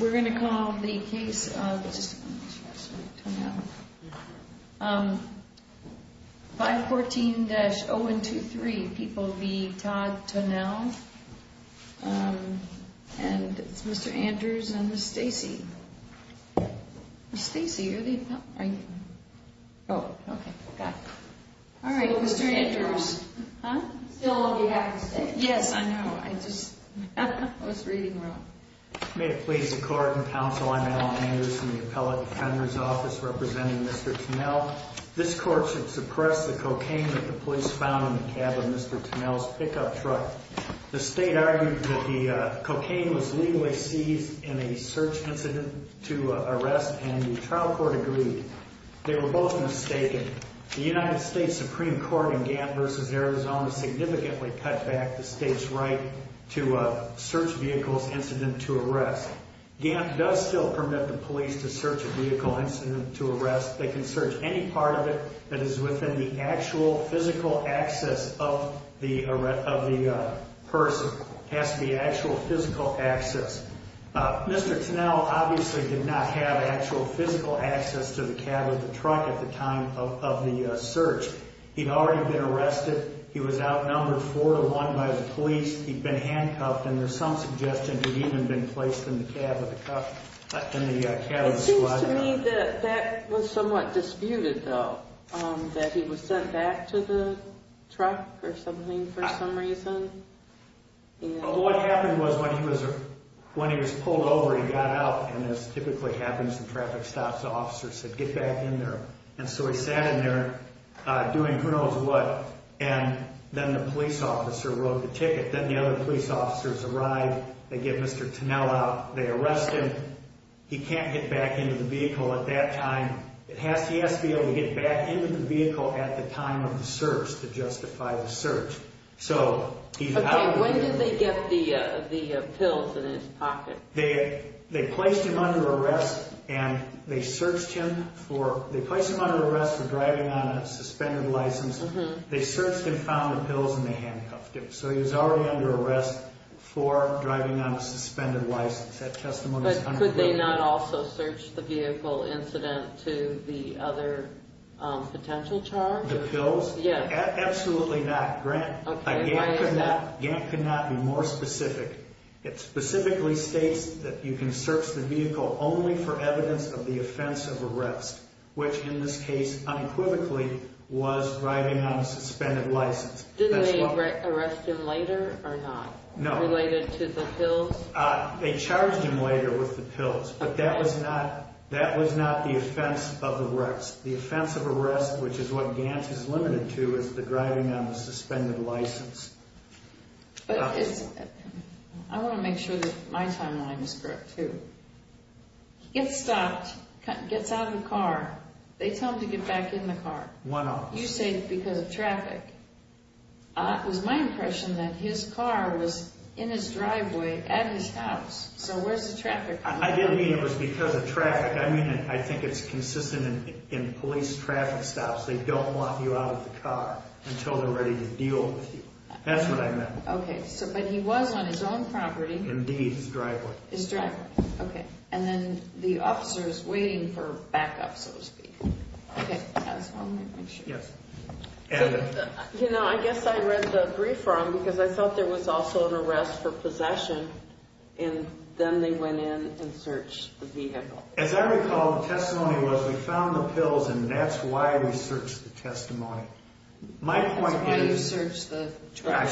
We're going to call the case of 514-0123, people v. Todd Tonelle. And it's Mr. Andrews and Ms. Stacey. Ms. Stacey, are you? Oh, okay. Got it. All right, Mr. Andrews. Still on behalf of Stacey. Yes, I know. I just, I was reading wrong. May it please the court and counsel, I'm Alan Andrews from the appellate defender's office representing Mr. Tonelle. This court should suppress the cocaine that the police found in the cab of Mr. Tonelle's pickup truck. The state argued that the cocaine was legally seized in a search incident to arrest and the trial court agreed. They were both mistaken. The United States Supreme Court in Gantt v. Arizona significantly cut back the state's right to a search vehicle's incident to arrest. Gantt does still permit the police to search a vehicle incident to arrest. They can search any part of it that is within the actual physical access of the person. It has to be actual physical access. Mr. Tonelle obviously did not have actual physical access to the cab of the truck at the time of the search. He'd already been arrested. He was outnumbered four to one by the police. He'd been handcuffed, and there's some suggestion he'd even been placed in the cab of the truck, in the cab of the truck. It seems to me that that was somewhat disputed, though, that he was sent back to the truck or something for some reason. What happened was when he was pulled over, he got out, and as typically happens in traffic stops, the officer said, Get back in there. And so he sat in there doing who knows what, and then the police officer wrote the ticket. Then the other police officers arrived. They get Mr. Tonelle out. They arrest him. He can't get back into the vehicle at that time. He has to be able to get back into the vehicle at the time of the search to justify the search. Okay, when did they get the pills in his pocket? They placed him under arrest, and they searched him for driving on a suspended license. They searched him, found the pills, and they handcuffed him. So he was already under arrest for driving on a suspended license. That testimony is 100%. But could they not also search the vehicle incident to the other potential charge? The pills? Yeah. Absolutely not, Grant. Okay. Why is that? Gant could not be more specific. It specifically states that you can search the vehicle only for evidence of the offense of arrest, which in this case, unequivocally, was driving on a suspended license. Did they arrest him later or not? No. Related to the pills? They charged him later with the pills, but that was not the offense of arrest. The offense of arrest, which is what Gant is limited to, is the driving on a suspended license. I want to make sure that my timeline is correct, too. He gets stopped, gets out of the car. They tell him to get back in the car. One of them. You say because of traffic. It was my impression that his car was in his driveway at his house. So where's the traffic coming from? I didn't mean it was because of traffic. I think it's consistent in police traffic stops. They don't want you out of the car until they're ready to deal with you. That's what I meant. Okay. But he was on his own property. Indeed, his driveway. His driveway. Okay. And then the officer is waiting for backup, so to speak. Okay. I'll make sure. Yes. You know, I guess I read the brief wrong because I thought there was also an arrest for possession, and then they went in and searched the vehicle. As I recall, the testimony was we found the pills, and that's why we searched the testimony. That's why you searched the truck?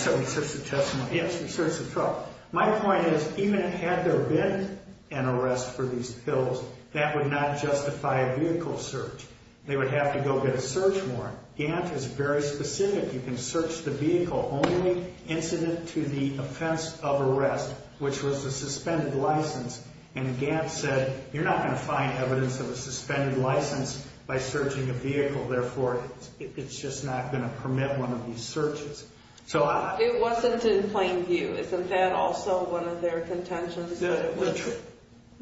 Yes, we searched the truck. My point is, even had there been an arrest for these pills, that would not justify a vehicle search. They would have to go get a search warrant. Gant is very specific. You can search the vehicle only incident to the offense of arrest, which was the suspended license. And Gant said, you're not going to find evidence of a suspended license by searching a vehicle. Therefore, it's just not going to permit one of these searches. It wasn't in plain view. Isn't that also one of their contentions, that it was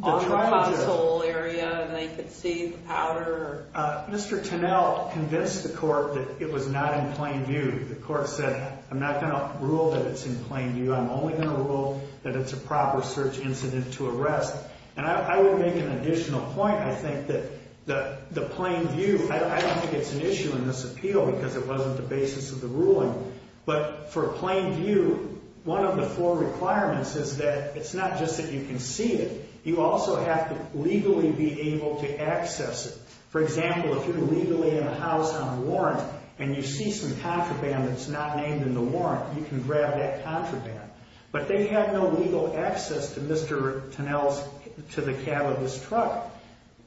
on the pothole area and they could see the powder? Mr. Tunnell convinced the court that it was not in plain view. The court said, I'm not going to rule that it's in plain view. I'm only going to rule that it's a proper search incident to arrest. And I would make an additional point. I think that the plain view, I don't think it's an issue in this appeal because it wasn't the basis of the ruling. But for a plain view, one of the four requirements is that it's not just that you can see it. You also have to legally be able to access it. For example, if you're legally in a house on a warrant and you see some contraband that's not named in the warrant, you can grab that contraband. But they had no legal access to Mr. Tunnell's, to the cab of his truck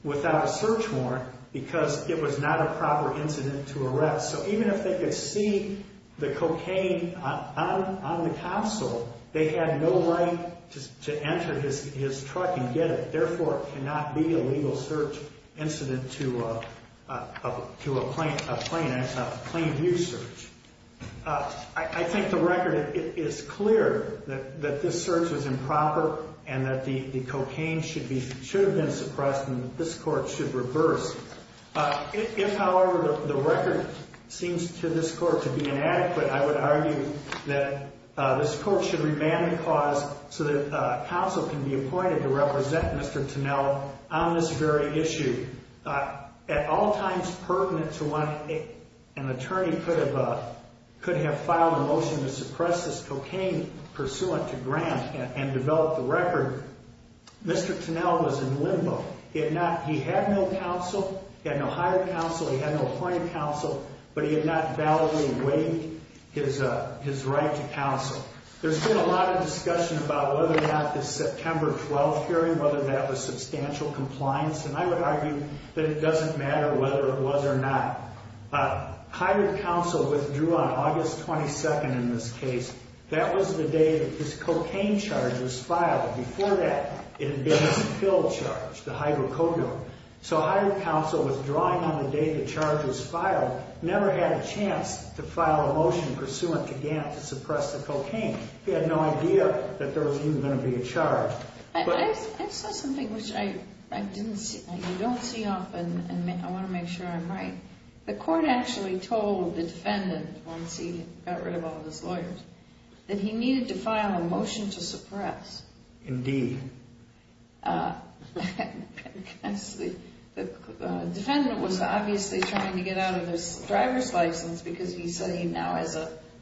without a search warrant because it was not a proper incident to arrest. So even if they could see the cocaine on the console, they had no right to enter his truck and get it. Therefore, it cannot be a legal search incident to a plain view search. I think the record, it is clear that this search was improper and that the cocaine should have been suppressed and that this court should reverse. If, however, the record seems to this court to be inadequate, I would argue that this court should remand the cause so that counsel can be appointed to represent Mr. Tunnell on this very issue. At all times pertinent to one, an attorney could have filed a motion to suppress this cocaine pursuant to grant and develop the record. Mr. Tunnell was in limbo. He had no counsel. He had no hired counsel. He had no appointed counsel. But he had not validly waived his right to counsel. There's been a lot of discussion about whether or not this September 12th hearing, whether that was substantial compliance. And I would argue that it doesn't matter whether it was or not. Hired counsel withdrew on August 22nd in this case. That was the day that this cocaine charge was filed. Before that, it had been a skilled charge, the hydrocodone. So hired counsel withdrawing on the day the charge was filed never had a chance to file a motion pursuant to grant to suppress the cocaine. He had no idea that there was even going to be a charge. I saw something which I don't see often, and I want to make sure I'm right. The court actually told the defendant, once he got rid of all of his lawyers, that he needed to file a motion to suppress. Indeed. The defendant was obviously trying to get out of his driver's license because he's studying now.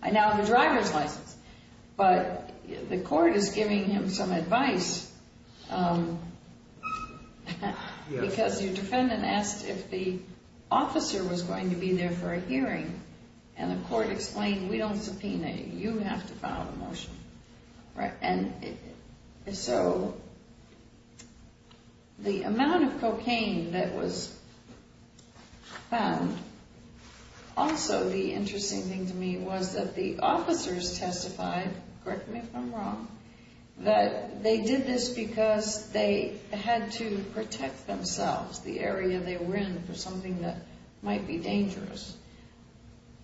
I now have a driver's license. But the court is giving him some advice because your defendant asked if the officer was going to be there for a hearing. And the court explained, we don't subpoena you. You have to file a motion. Right. And so the amount of cocaine that was found, also the interesting thing to me was that the officers testified, correct me if I'm wrong, that they did this because they had to protect themselves, the area they were in, for something that might be dangerous.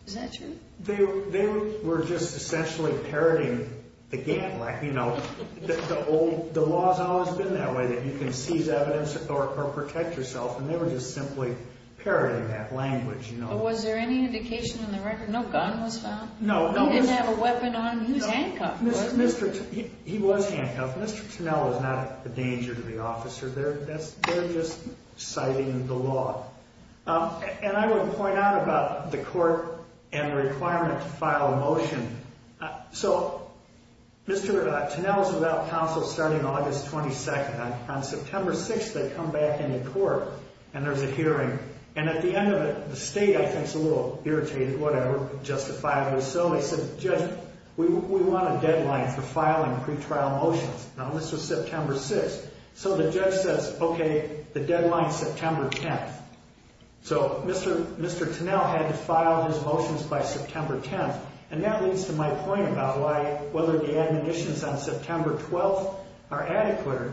Is that true? They were just essentially parroting the game. The law has always been that way, that you can seize evidence or protect yourself, and they were just simply parroting that language. Was there any indication in the record no gun was found? No. He didn't have a weapon on him. He was handcuffed, wasn't he? He was handcuffed. Mr. Tunnell is not a danger to the officer. They're just citing the law. And I want to point out about the court and the requirement to file a motion. So Mr. Tunnell is without counsel starting August 22nd. On September 6th, they come back into court, and there's a hearing. And at the end of it, the state, I think, is a little irritated, whatever, justifiably so. They said, Judge, we want a deadline for filing pretrial motions. Now, this was September 6th. So the judge says, okay, the deadline's September 10th. So Mr. Tunnell had to file his motions by September 10th, and that leads to my point about why whether the admonitions on September 12th are adequate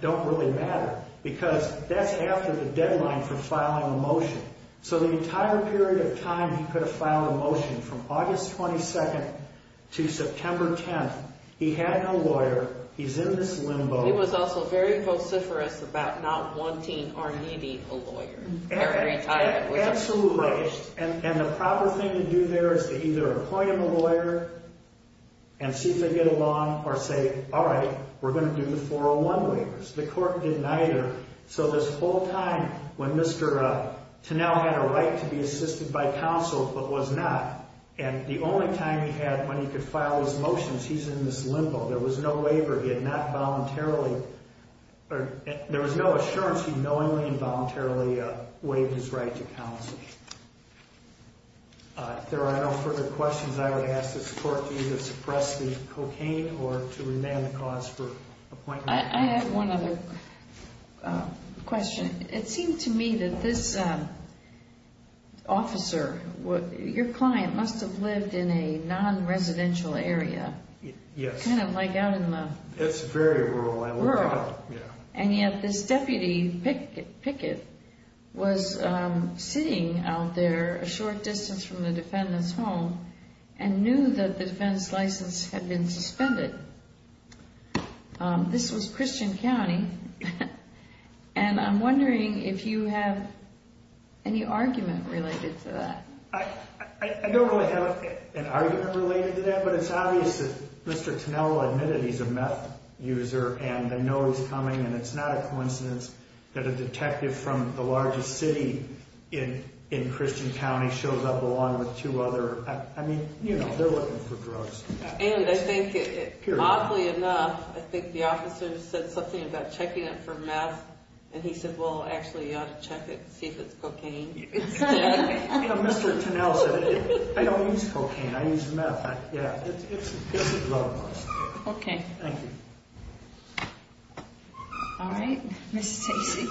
don't really matter because that's after the deadline for filing a motion. So the entire period of time he could have filed a motion from August 22nd to September 10th, he had no lawyer, he's in this limbo. He was also very vociferous about not wanting or needing a lawyer every time. Absolutely. And the proper thing to do there is to either appoint him a lawyer and see if they get along or say, all right, we're going to do the 401 waivers. The court didn't either. So this whole time when Mr. Tunnell had a right to be assisted by counsel but was not, and the only time he had when he could file his motions, he's in this limbo. There was no waiver. He had not voluntarily, there was no assurance he knowingly and voluntarily waived his right to counsel. If there are no further questions, I would ask this court to either suppress the cocaine or to remand the cause for appointment. I have one other question. It seemed to me that this officer, your client must have lived in a non-residential area. Yes. Kind of like out in the... It's very rural. Rural. Yeah. And yet this deputy, Pickett, was sitting out there a short distance from the defendant's home and knew that the defense license had been suspended. This was Christian County, and I'm wondering if you have any argument related to that. I don't really have an argument related to that, but it's obvious that Mr. Tunnell admitted he's a meth user, and I know he's coming, and it's not a coincidence that a detective from the largest city in Christian County shows up along with two other... I mean, you know, they're looking for drugs. And I think, oddly enough, I think the officer said something about checking it for meth, and he said, well, actually you ought to check it and see if it's cocaine instead. You know, Mr. Tunnell said, I don't use cocaine. I use meth. Yeah. It's a love question. Okay. Thank you. All right. Ms. Stacy.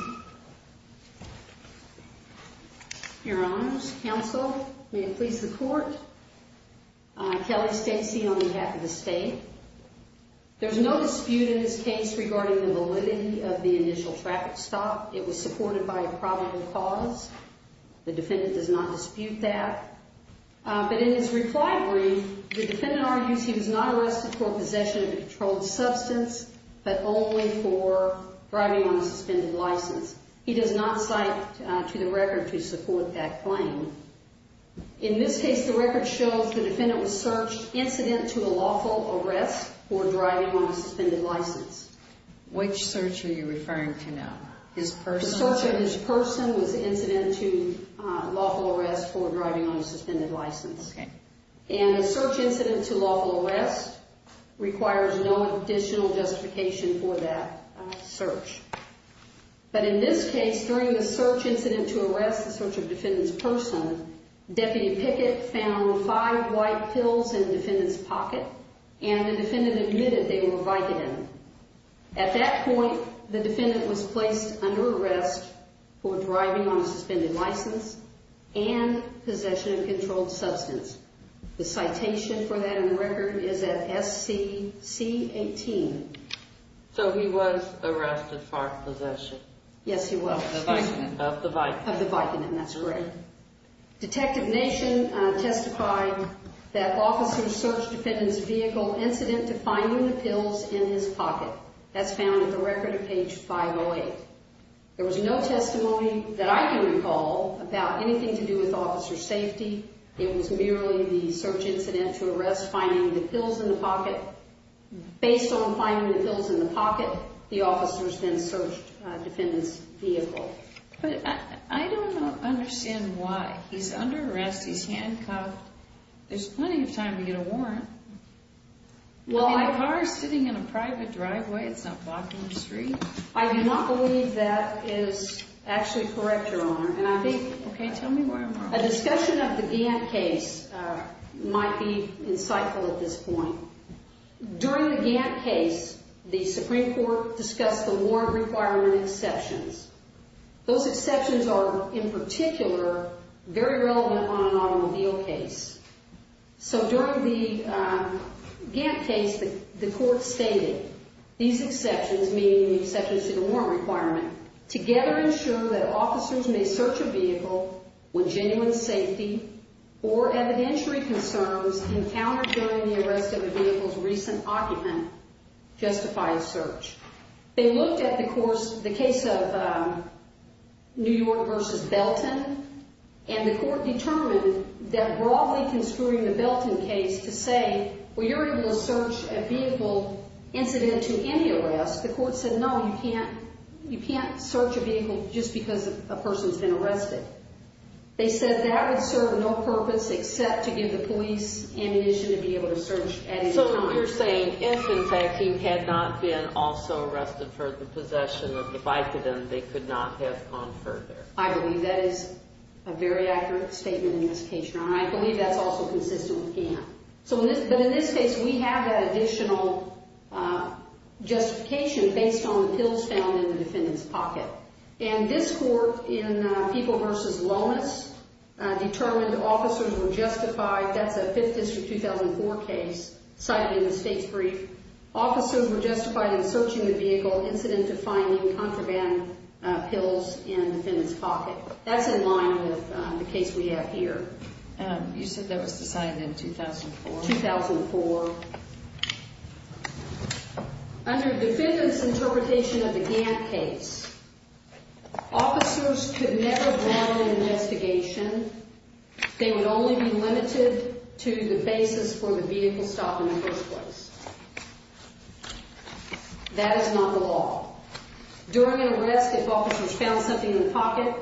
Your Honors, Counsel, may it please the Court, Kelly Stacy on behalf of the state. There's no dispute in this case regarding the validity of the initial traffic stop. It was supported by a probable cause. The defendant does not dispute that. But in his reply brief, the defendant argues he was not arrested for possession of a controlled substance, but only for driving on a suspended license. He does not cite to the record to support that claim. In this case, the record shows the defendant was searched incident to a lawful arrest for driving on a suspended license. Which search are you referring to now? His personal search? The search of his person was incident to lawful arrest for driving on a suspended license. Okay. And a search incident to lawful arrest requires no additional justification for that search. But in this case, during the search incident to arrest, the search of the defendant's person, Deputy Pickett found five white pills in the defendant's pocket, and the defendant admitted they were Vicodin. At that point, the defendant was placed under arrest for driving on a suspended license and possession of a controlled substance. The citation for that in the record is at SCC 18. So he was arrested for possession? Yes, he was. Of the Vicodin? Of the Vicodin, that's correct. Detective Nation testified that officers searched the defendant's vehicle incident to finding the pills in his pocket. That's found in the record at page 508. There was no testimony that I can recall about anything to do with officer safety. It was merely the search incident to arrest finding the pills in the pocket. Based on finding the pills in the pocket, the officers then searched the defendant's vehicle. But I don't understand why. He's under arrest, he's handcuffed. There's plenty of time to get a warrant. The car is sitting in a private driveway, it's not blocking the street. I do not believe that is actually correct, Your Honor. Okay, tell me where I'm wrong. A discussion of the Gantt case might be insightful at this point. During the Gantt case, the Supreme Court discussed the warrant requirement exceptions. Those exceptions are, in particular, very relevant on an automobile case. So during the Gantt case, the court stated these exceptions, meaning the exceptions to the warrant requirement, together ensure that officers may search a vehicle when genuine safety or evidentiary concerns encountered during the arrest of a vehicle's recent occupant justify a search. They looked at the case of New York v. Belton, and the court determined that broadly construing the Belton case to say, well, you're able to search a vehicle incident to any arrest, the court said, no, you can't search a vehicle just because a person's been arrested. They said that would serve no purpose except to give the police ammunition to be able to search at any time. So you're saying if, in fact, he had not been also arrested for the possession of the bike of them, they could not have gone further. I believe that is a very accurate statement and justification. I believe that's also consistent with Gantt. But in this case, we have that additional justification based on the pills found in the defendant's pocket. And this court, in People v. Lomas, determined officers were justified. That's a 5th District 2004 case cited in the state's brief. Officers were justified in searching the vehicle incident defining contraband pills in the defendant's pocket. That's in line with the case we have here. You said that was decided in 2004? 2004. Under the defendant's interpretation of the Gantt case, officers could never battle an investigation. They would only be limited to the basis for the vehicle stop in the first place. That is not the law. During an arrest, if officers found something in the pocket,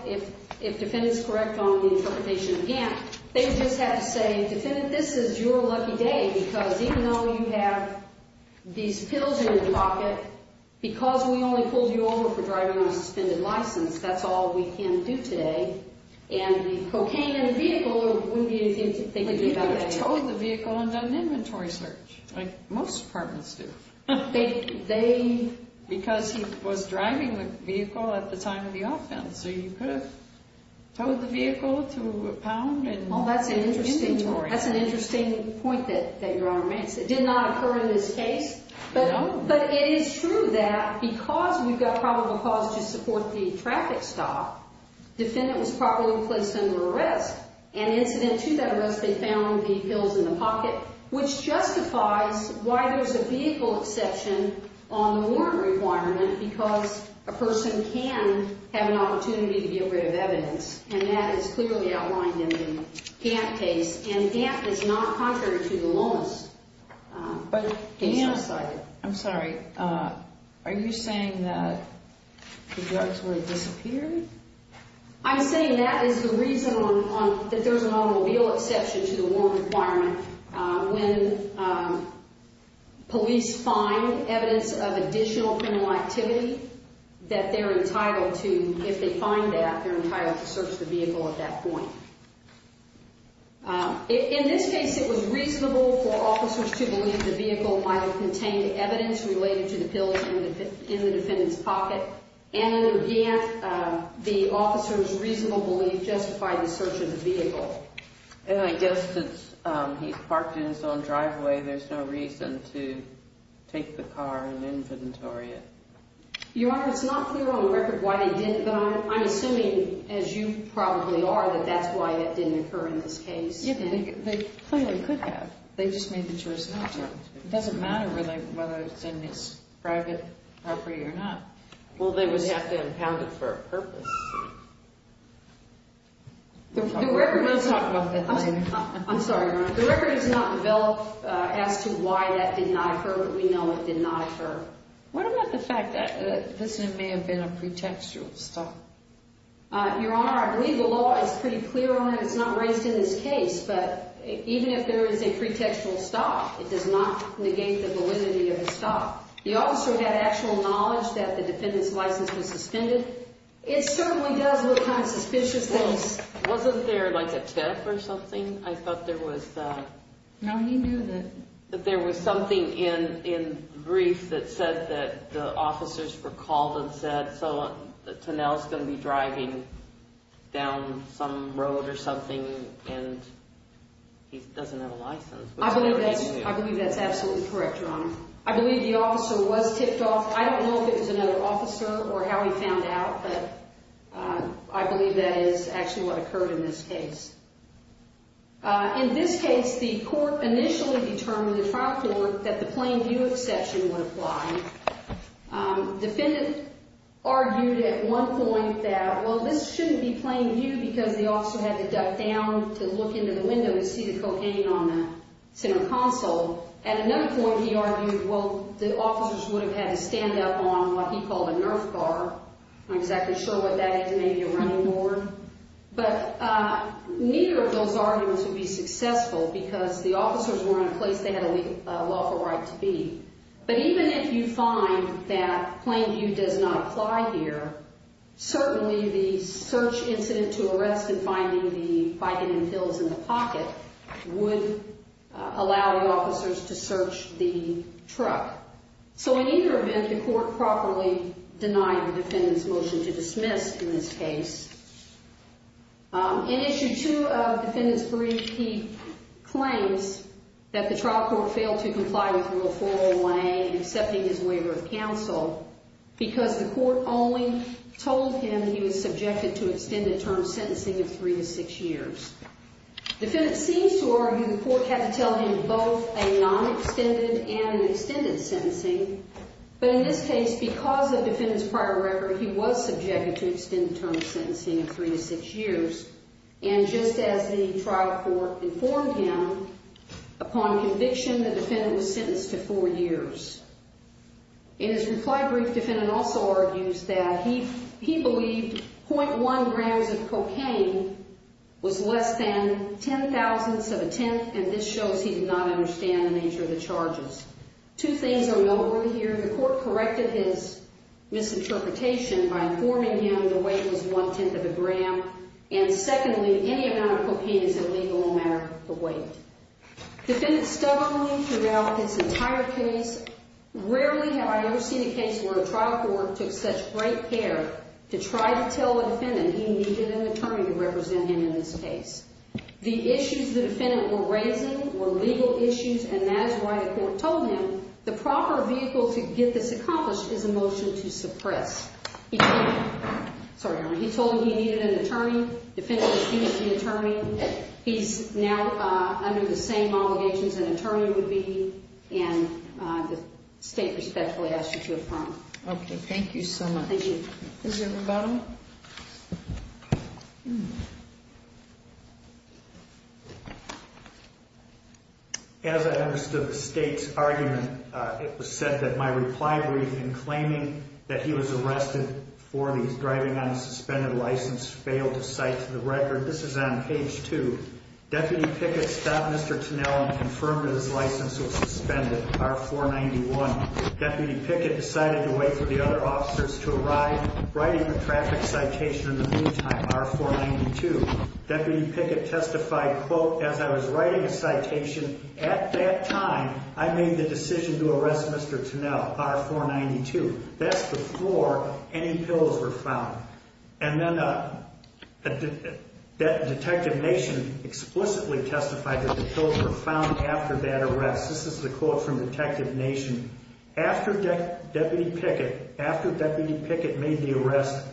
if defendant's correct on the interpretation of Gantt, they just had to say, defendant, this is your lucky day because even though you have these pills in your pocket, because we only pulled you over for driving on a suspended license, that's all we can do today. And the cocaine in the vehicle wouldn't be anything to think about. But you could have towed the vehicle and done an inventory search, like most departments do. They... Because he was driving the vehicle at the time of the offense, so you could have towed the vehicle to a pound and... Well, that's an interesting point that Your Honor makes. It did not occur in this case. No. But it is true that because we've got probable cause to support the traffic stop, defendant was properly placed under arrest. And incident two, that arrest, they found the pills in the pocket, which justifies why there's a vehicle exception on the warrant requirement, because a person can have an opportunity to get rid of evidence. And that is clearly outlined in the Gantt case. And Gantt is not contrary to the Lomas case. I'm sorry. Are you saying that the drugs were disappeared? I'm saying that is the reason that there's an automobile exception to the warrant requirement. When police find evidence of additional criminal activity that they're entitled to, if they find that, they're entitled to search the vehicle at that point. In this case, it was reasonable for officers to believe the vehicle might have contained evidence related to the pills in the defendant's pocket. And under Gantt, the officers' reasonable belief justified the search of the vehicle. And I guess since he parked in his own driveway, there's no reason to take the car and inventory it. Your Honor, it's not clear on record why they didn't. But I'm assuming, as you probably are, that that's why that didn't occur in this case. They clearly could have. They just made the choice not to. It doesn't matter really whether it's in his private property or not. Well, they would have to have it for a purpose. We'll talk about that later. I'm sorry, Your Honor. The record is not developed as to why that did not occur, but we know it did not occur. What about the fact that this may have been a pretextual stop? Your Honor, I believe the law is pretty clear on it. It's not raised in this case. But even if there is a pretextual stop, it does not negate the validity of the stop. The officer had actual knowledge that the defendant's license was suspended. It certainly does look kind of suspicious. Well, wasn't there like a tip or something? I thought there was. No, he knew that. There was something in the brief that said that the officers were called and said, so Tonell's going to be driving down some road or something, and he doesn't have a license. I believe that's absolutely correct, Your Honor. I believe the officer was tipped off. I don't know if it was another officer or how he found out, but I believe that is actually what occurred in this case. In this case, the court initially determined, the trial court, that the plain view exception would apply. Defendant argued at one point that, well, this shouldn't be plain view because the officer had to duck down to look into the window to see the cocaine on the center console. At another point, he argued, well, the officers would have had to stand up on what he called a nerf bar. I'm not exactly sure what that is. It may be a running board. But neither of those arguments would be successful because the officers were in a place they had a lawful right to be. But even if you find that plain view does not apply here, certainly the search incident to arrest him finding the Vicodin pills in the pocket would allow the officers to search the truck. So in either event, the court properly denied the defendant's motion to dismiss in this case. In Issue 2 of Defendant's brief, he claims that the trial court failed to comply with Rule 401A in accepting his waiver of counsel because the court only told him he was subjected to extended term sentencing of three to six years. Defendant seems to argue the court had to tell him both a non-extended and an extended sentencing. But in this case, because of defendant's prior record, he was subjected to extended term sentencing of three to six years. And just as the trial court informed him, upon conviction, the defendant was sentenced to four years. In his reply brief, defendant also argues that he believed .1 grams of cocaine was less than ten thousandths of a tenth, and this shows he did not understand the nature of the charges. Two things are noteworthy here. The court corrected his misinterpretation by informing him the weight was one-tenth of a gram, and secondly, any amount of cocaine is illegal no matter the weight. Defendant stubbornly threw out his entire case. Rarely have I ever seen a case where a trial court took such great care to try to tell the defendant he needed an attorney to represent him in this case. The issues the defendant were raising were legal issues, and that is why the court told him the proper vehicle to get this accomplished is a motion to suppress. He told him he needed an attorney. Defendant was deemed the attorney. He's now under the same obligations an attorney would be, and the state respectfully asks you to affirm. Okay, thank you so much. Thank you. Is there rebuttal? As I understood the state's argument, it was said that my reply brief in claiming that he was arrested for these, driving on a suspended license, failed to cite to the record. This is on page 2. Deputy Pickett stopped Mr. Tunnell and confirmed that his license was suspended, R-491. Deputy Pickett decided to wait for the other officers to arrive, writing a traffic citation in the meantime, R-492. Deputy Pickett testified, quote, as I was writing a citation at that time, I made the decision to arrest Mr. Tunnell, R-492. That's before any pills were found. And then Detective Nation explicitly testified that the pills were found after that arrest. This is the quote from Detective Nation. After Deputy Pickett made the arrest,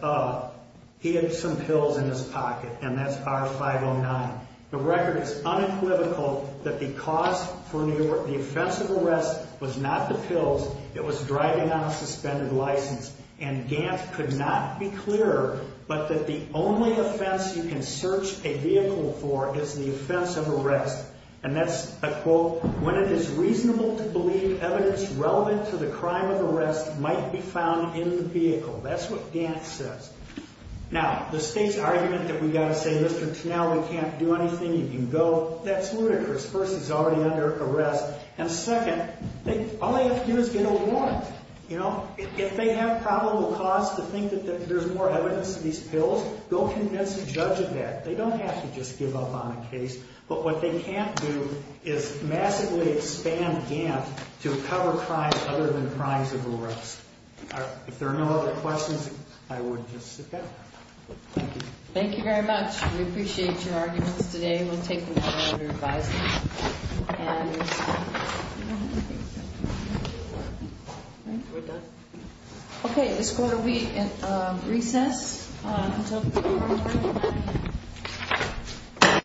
he had some pills in his pocket, and that's R-509. The record is unequivocal that the cause for the offense of arrest was not the pills, it was driving on a suspended license. And Gant could not be clearer, but that the only offense you can search a vehicle for is the offense of arrest. And that's a quote, when it is reasonable to believe evidence relevant to the crime of arrest might be found in the vehicle. That's what Gant says. Now, the state's argument that we've got to say, Mr. Tunnell, we can't do anything, you can go, that's ludicrous. First, he's already under arrest. And second, all they have to do is get a warrant. If they have probable cause to think that there's more evidence in these pills, go convince a judge of that. They don't have to just give up on a case. But what they can't do is massively expand Gant to cover crimes other than crimes of arrest. If there are no other questions, I would just sit back. Thank you. Thank you very much. We appreciate your arguments today. We'll take them to our other advisors. Okay, let's go to recess.